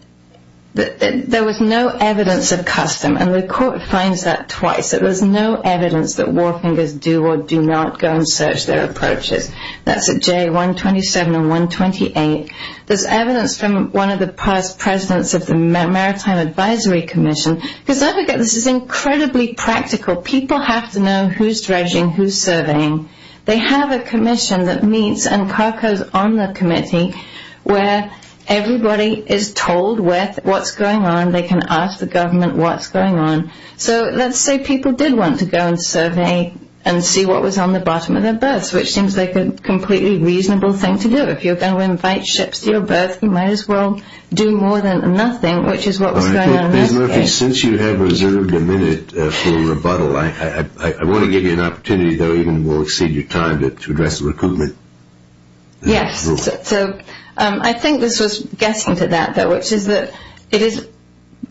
there was no evidence of custom, and the Court finds that twice, that there's no evidence that wharfing does do or do not go and search their approaches. That's at J127 and 128. There's evidence from one of the past presidents of the Maritime Advisory Commission. Because, don't forget, this is incredibly practical. People have to know who's dredging, who's surveying. They have a commission that meets, and Carco's on the committee, where everybody is told what's going on. They can ask the government what's going on. So let's say people did want to go and survey and see what was on the bottom of their berths, which seems like a completely reasonable thing to do. If you're going to invite ships to your berths, you might as well do more than nothing, which is what was going on in that case. Ms. Murphy, since you have reserved a minute for rebuttal, I want to give you an opportunity, though even will exceed your time, to address recoupment. Yes. So I think this was guessing to that, though, which is that it is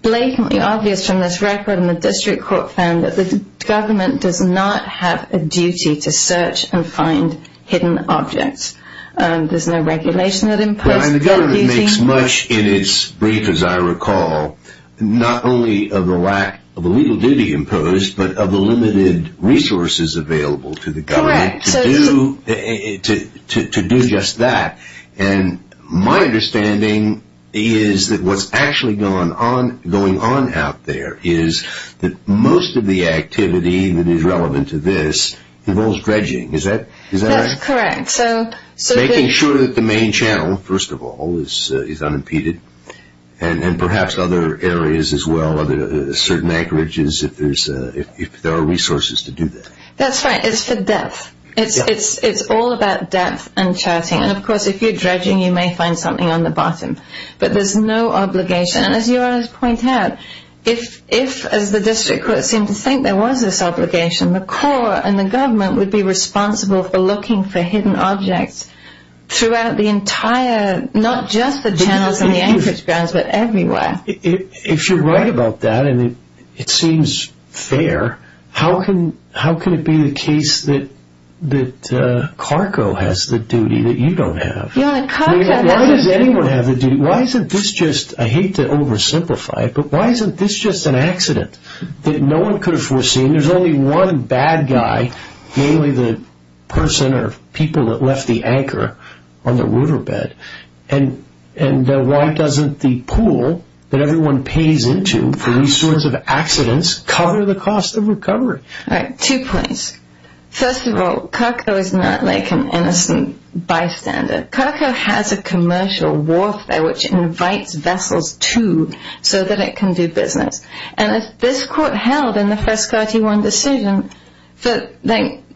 blatantly obvious from this record and the district court found that the government does not have a duty to search and find hidden objects. There's no regulation that imposes that duty. It makes much in its brief, as I recall, not only of the lack of a legal duty imposed, but of the limited resources available to the government to do just that. And my understanding is that what's actually going on out there is that most of the activity that is relevant to this involves dredging. Is that right? That's correct. Making sure that the main channel, first of all, is unimpeded, and perhaps other areas as well, certain anchorages, if there are resources to do that. That's right. It's for depth. It's all about depth and charting. And, of course, if you're dredging, you may find something on the bottom. But there's no obligation. And as you always point out, if, as the district court seemed to think, there was this obligation, the court and the government would be responsible for looking for hidden objects throughout the entire, not just the channels and the anchorage grounds, but everywhere. If you're right about that, and it seems fair, how can it be the case that Carco has the duty that you don't have? Why does anyone have the duty? Why isn't this just, I hate to oversimplify it, but why isn't this just an accident that no one could have foreseen? I mean, there's only one bad guy, namely the person or people that left the anchor on the riverbed. And why doesn't the pool that everyone pays into for these sorts of accidents cover the cost of recovery? All right, two points. First of all, Carco is not like an innocent bystander. Carco has a commercial warfare which invites vessels to so that it can do business. And if this court held in the first 31 decision that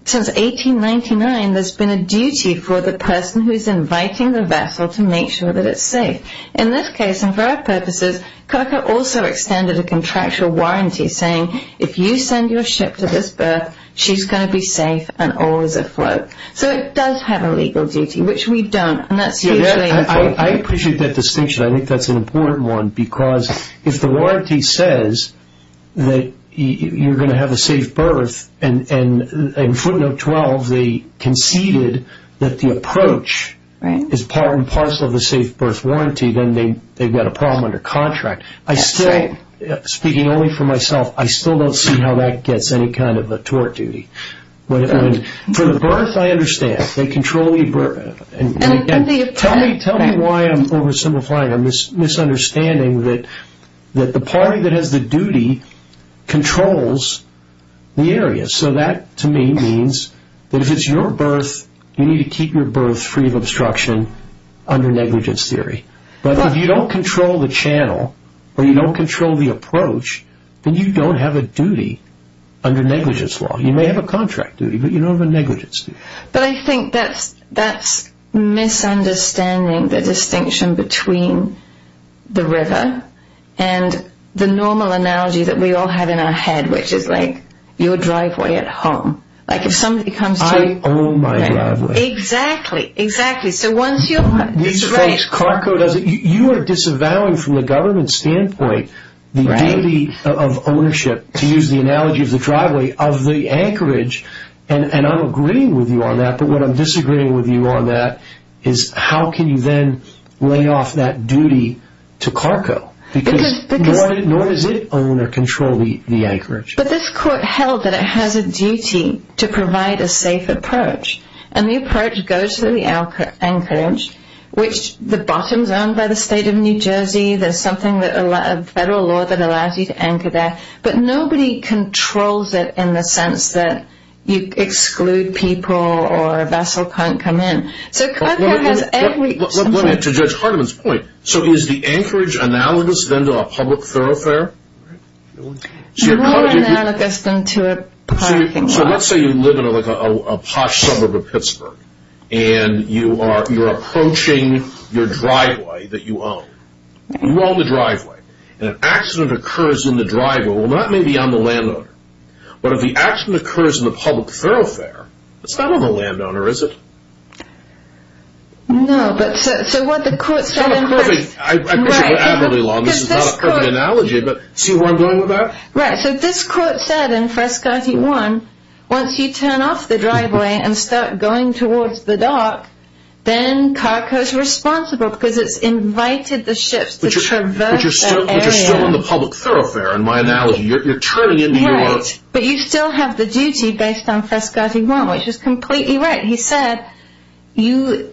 since 1899, there's been a duty for the person who's inviting the vessel to make sure that it's safe. In this case, and for our purposes, Carco also extended a contractual warranty saying, if you send your ship to this berth, she's going to be safe and always afloat. So it does have a legal duty, which we don't. I appreciate that distinction. I think that's an important one because if the warranty says that you're going to have a safe berth, and footnote 12, they conceded that the approach is part and parcel of the safe berth warranty, then they've got a problem under contract. I still, speaking only for myself, I still don't see how that gets any kind of a tort duty. For the berth, I understand. Tell me why I'm oversimplifying. I'm misunderstanding that the party that has the duty controls the area. So that to me means that if it's your berth, you need to keep your berth free of obstruction under negligence theory. But if you don't control the channel or you don't control the approach, then you don't have a duty under negligence law. You may have a contract duty, but you don't have a negligence duty. But I think that's misunderstanding the distinction between the river and the normal analogy that we all have in our head, which is like your driveway at home. I own my driveway. Exactly. These folks, Carco does it. You are disavowing from the government standpoint the duty of ownership, to use the analogy of the driveway, of the anchorage. And I'm agreeing with you on that. But what I'm disagreeing with you on that is how can you then lay off that duty to Carco? Because nor does it own or control the anchorage. But this court held that it has a duty to provide a safe approach. And the approach goes to the anchorage, which the bottom's owned by the state of New Jersey. There's something, a federal law that allows you to anchor there. But nobody controls it in the sense that you exclude people or a vessel can't come in. So Carco has every... To Judge Hardiman's point, so is the anchorage analogous then to a public thoroughfare? More analogous than to a parking lot. So let's say you live in like a posh suburb of Pittsburgh. And you are approaching your driveway that you own. You own the driveway. And an accident occurs in the driveway. Well, that may be on the landowner. But if the accident occurs in the public thoroughfare, it's not on the landowner, is it? No, but so what the court said in... It's not a perfect... Right. This is not a perfect analogy, but see where I'm going with that? Right, so this court said in Frescati 1, once you turn off the driveway and start going towards the dock, then Carco's responsible because it's invited the ships to traverse that... But you're still in the public thoroughfare, in my analogy. You're turning into your... Right, but you still have the duty based on Frescati 1, which is completely right. He said you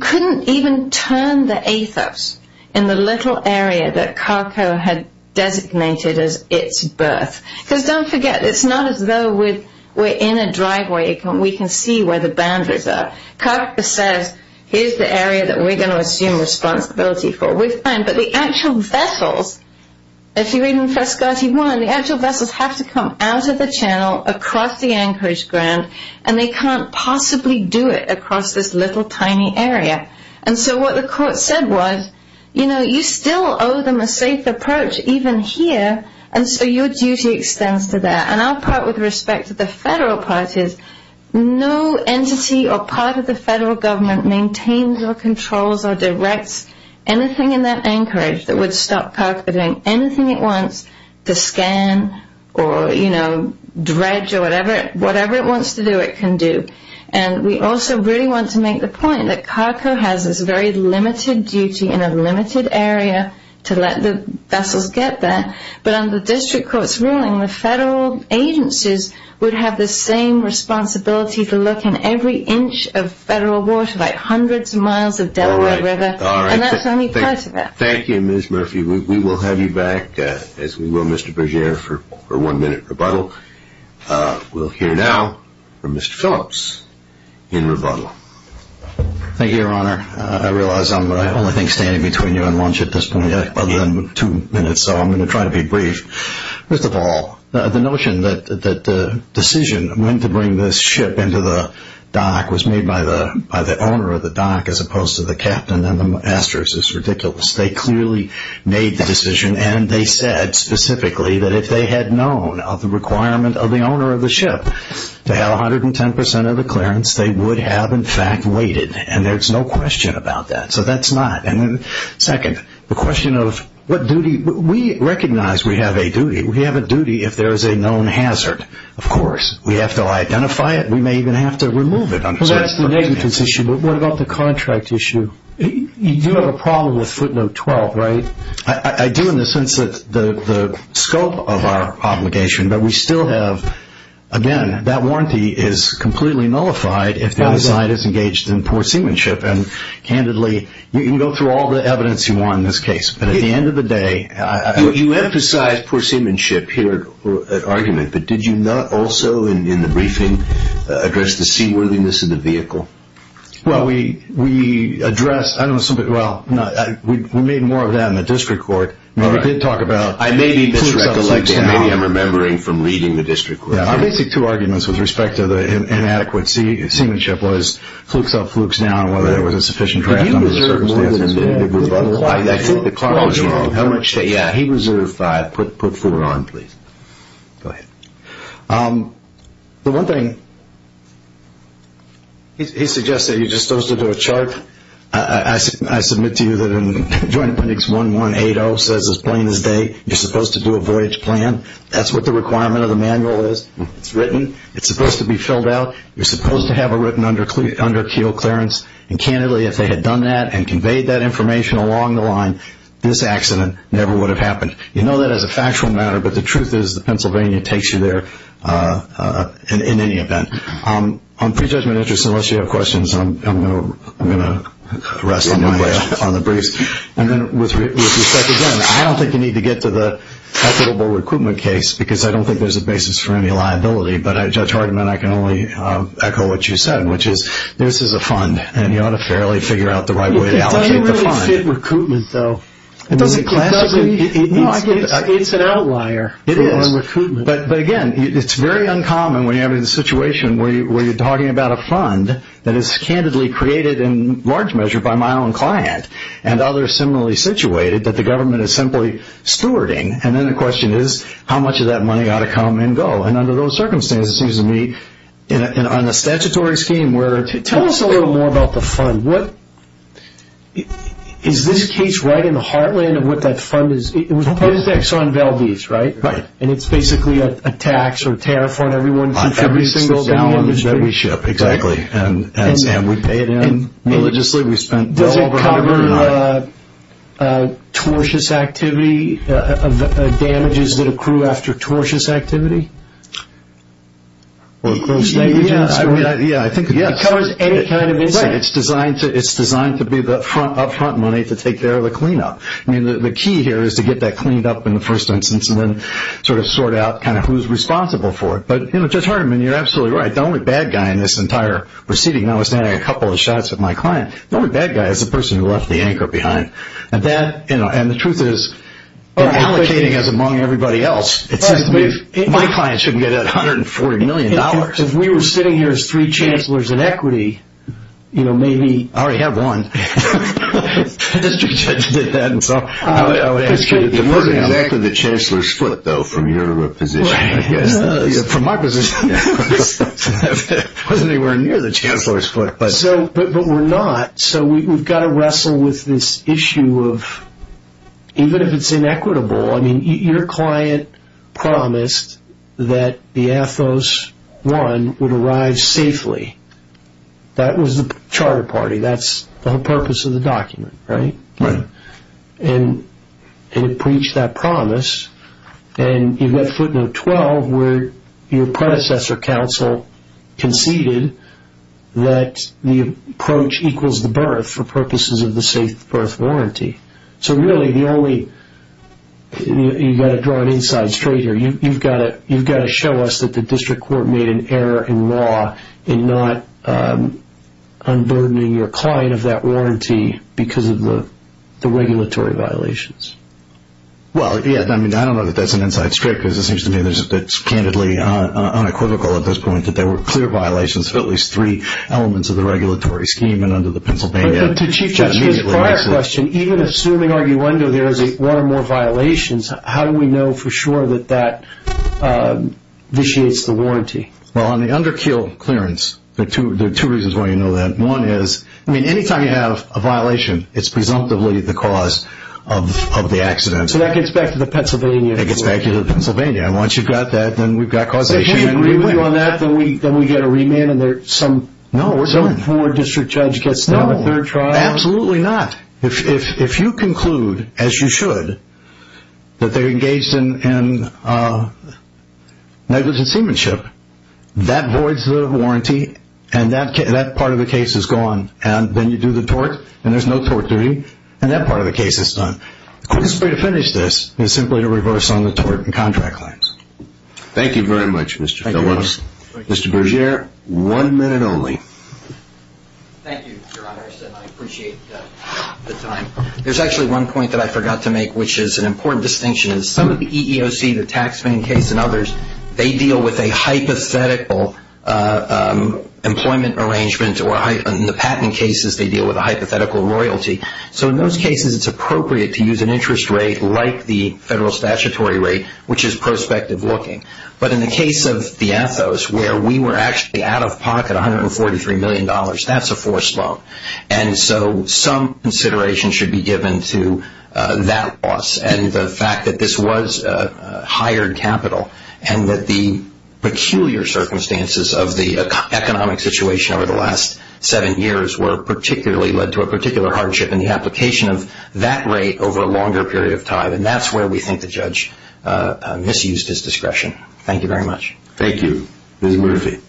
couldn't even turn the ATHOS in the little area that Carco had designated as its berth. Because don't forget, it's not as though we're in a driveway. We can see where the boundaries are. Carco says, here's the area that we're going to assume responsibility for. We're fine, but the actual vessels, if you read in Frescati 1, the actual vessels have to come out of the channel across the anchorage ground, and they can't possibly do it across this little tiny area. And so what the court said was, you know, you still owe them a safe approach even here, and so your duty extends to that. And I'll part with respect to the federal parties. No entity or part of the federal government maintains or controls or directs anything in that anchorage that would stop Carco from doing anything it wants to scan or, you know, dredge or whatever it wants to do, it can do. And we also really want to make the point that Carco has this very limited duty in a limited area to let the vessels get there. But under district court's ruling, the federal agencies would have the same responsibility to look in every inch of federal water, like hundreds of miles of Delaware River. And that's only part of it. Thank you, Ms. Murphy. We will have you back, as we will Mr. Berger, for one-minute rebuttal. We'll hear now from Mr. Phillips in rebuttal. Thank you, Your Honor. I realize I'm the only thing standing between you and lunch at this point, other than two minutes, so I'm going to try to be brief. First of all, the notion that the decision when to bring this ship into the dock was made by the owner of the dock as opposed to the captain and the masters is ridiculous. They clearly made the decision, and they said specifically that if they had known of the requirement of the owner of the ship to have 110% of the clearance, they would have, in fact, waited. And there's no question about that. So that's not. And second, the question of what duty. We recognize we have a duty. We have a duty if there is a known hazard. Of course. We have to identify it. We may even have to remove it. Well, that's the negligence issue. But what about the contract issue? You do have a problem with footnote 12, right? I do in the sense that the scope of our obligation, but we still have, again, that warranty is completely nullified if the other side is engaged in poor seamanship. And candidly, you can go through all the evidence you want in this case, but at the end of the day you emphasize poor seamanship here at argument, but did you not also in the briefing address the seaworthiness of the vehicle? Well, we addressed – well, we made more of that in the district court. We did talk about flukes up, flukes down. Maybe I'm remembering from reading the district court. Our basic two arguments with respect to the inadequate seamanship was flukes up, flukes down, whether there was a sufficient draft under the circumstances. I think the clock was wrong. Yeah, he reserved five. Put four on, please. Go ahead. The one thing – he suggests that you're disposed to do a chart. I submit to you that in Joint Appendix 1180 says as plain as day, you're supposed to do a voyage plan. That's what the requirement of the manual is. It's written. It's supposed to be filled out. You're supposed to have it written under keel clearance. And, candidly, if they had done that and conveyed that information along the line, this accident never would have happened. You know that as a factual matter, but the truth is that Pennsylvania takes you there in any event. On prejudgment interests, unless you have questions, I'm going to rest on the briefs. And then with respect, again, I don't think you need to get to the equitable recruitment case because I don't think there's a basis for any liability, but, Judge Hardiman, I can only echo what you said, which is this is a fund, and you ought to fairly figure out the right way to allocate the fund. It doesn't really fit recruitment, though. It's an outlier. It is. But, again, it's very uncommon when you have a situation where you're talking about a fund that is candidly created in large measure by my own client and others similarly situated that the government is simply stewarding, and then the question is how much of that money ought to come and go. And under those circumstances, it seems to me, on the statutory scheme, tell us a little more about the fund. Is this case right in the heartland of what that fund is? It was a project on Valdez, right? Right. And it's basically a tax or tariff on every single gallon that we ship? On every single gallon that we ship, exactly. And, Sam, we pay it in. And religiously we spend well over $100 million. Tortuous activity, damages that accrue after tortuous activity? Yeah, I think it covers any kind of incident. It's designed to be the upfront money to take care of the cleanup. I mean, the key here is to get that cleaned up in the first instance and then sort of sort out kind of who's responsible for it. But, you know, Judge Hardiman, you're absolutely right. The only bad guy in this entire proceeding, notwithstanding a couple of shots at my client, the only bad guy is the person who left the anchor behind. And the truth is, in allocating as among everybody else, it seems to me my client shouldn't get that $140 million. If we were sitting here as three chancellors in equity, you know, maybe... I already have one. The district judge did that. It wasn't exactly the chancellor's foot, though, from your position, I guess. From my position, it wasn't anywhere near the chancellor's foot. But we're not. So we've got to wrestle with this issue of even if it's inequitable... I mean, your client promised that the Athos 1 would arrive safely. That was the charter party. That's the whole purpose of the document, right? Right. And it preached that promise. And you've got footnote 12 where your predecessor counsel conceded that the approach equals the birth for purposes of the safe birth warranty. So really the only... you've got to draw an inside straight here. You've got to show us that the district court made an error in law in not unburdening your client of that warranty because of the regulatory violations. Well, yeah, I mean, I don't know that that's an inside straight because it seems to me that it's candidly unequivocal at this point that there were clear violations of at least three elements of the regulatory scheme and under the Pennsylvania... But to Chief Justice's prior question, even assuming arguendo there is one or more violations, how do we know for sure that that vitiates the warranty? Well, on the underkill clearance, there are two reasons why you know that. One is, I mean, anytime you have a violation, it's presumptively the cause of the accident. So that gets back to the Pennsylvania issue. It gets back to the Pennsylvania. And once you've got that, then we've got causation. So if you agree with me on that, then we get a remand and there's some... No.... some poor district judge gets down a third trial. No, absolutely not. If you conclude, as you should, that they're engaged in negligent seamanship, that voids the warranty and that part of the case is gone. And then you do the tort, and there's no tort duty, and that part of the case is done. The quickest way to finish this is simply to reverse on the tort and contract claims. Thank you very much, Mr. Phillips. Mr. Berger, one minute only. Thank you, Your Honor. I appreciate the time. There's actually one point that I forgot to make, which is an important distinction. In some of the EEOC, the taxpaying case and others, they deal with a hypothetical employment arrangement. In the patent cases, they deal with a hypothetical royalty. So in those cases, it's appropriate to use an interest rate like the federal statutory rate, which is prospective looking. But in the case of the Athos, where we were actually out of pocket $143 million, that's a forced loan. And so some consideration should be given to that loss and the fact that this was hired capital and that the peculiar circumstances of the economic situation over the last seven years led to a particular hardship in the application of that rate over a longer period of time. And that's where we think the judge misused his discretion. Thank you very much. Thank you. Ms. Murphy. Thank you.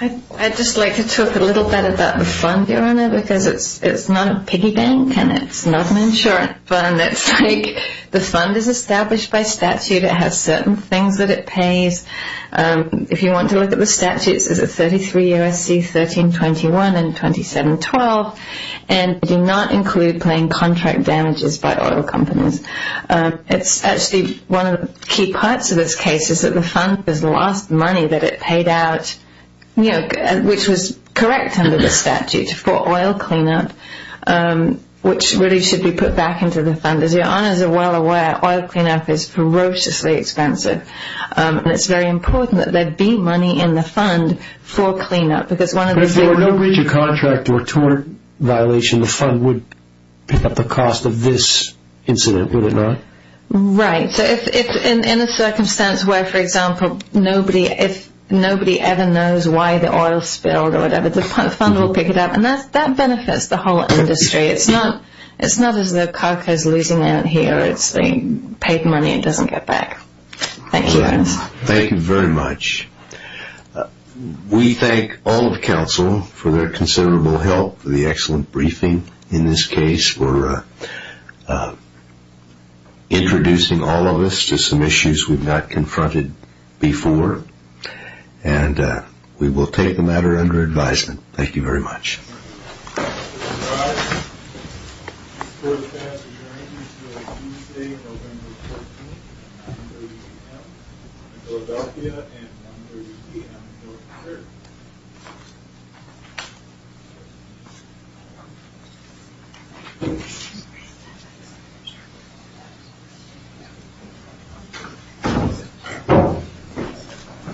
I'd just like to talk a little bit about the fund, Your Honor, because it's not a piggy bank and it's not an insurance fund. It's like the fund is established by statute. It has certain things that it pays. If you want to look at the statutes, it's at 33 U.S.C. 1321 and 2712, and they do not include paying contract damages by oil companies. It's actually one of the key parts of this case is that the fund has lost money that it paid out, which was correct under the statute, for oil cleanup, which really should be put back into the fund. As Your Honors are well aware, oil cleanup is ferociously expensive, and it's very important that there be money in the fund for cleanup. But if there were no breach of contract or tort violation, the fund would pick up the cost of this incident, would it not? Right. So in a circumstance where, for example, nobody ever knows why the oil spilled or whatever, the fund will pick it up, and that benefits the whole industry. It's not as though CARCA is losing out here. It's they paid money and it doesn't get back. Thank you, Your Honors. Thank you very much. We thank all of counsel for their considerable help for the excellent briefing in this case, for introducing all of us to some issues we've not confronted before, and we will take the matter under advisement. Thank you very much. Thank you very much.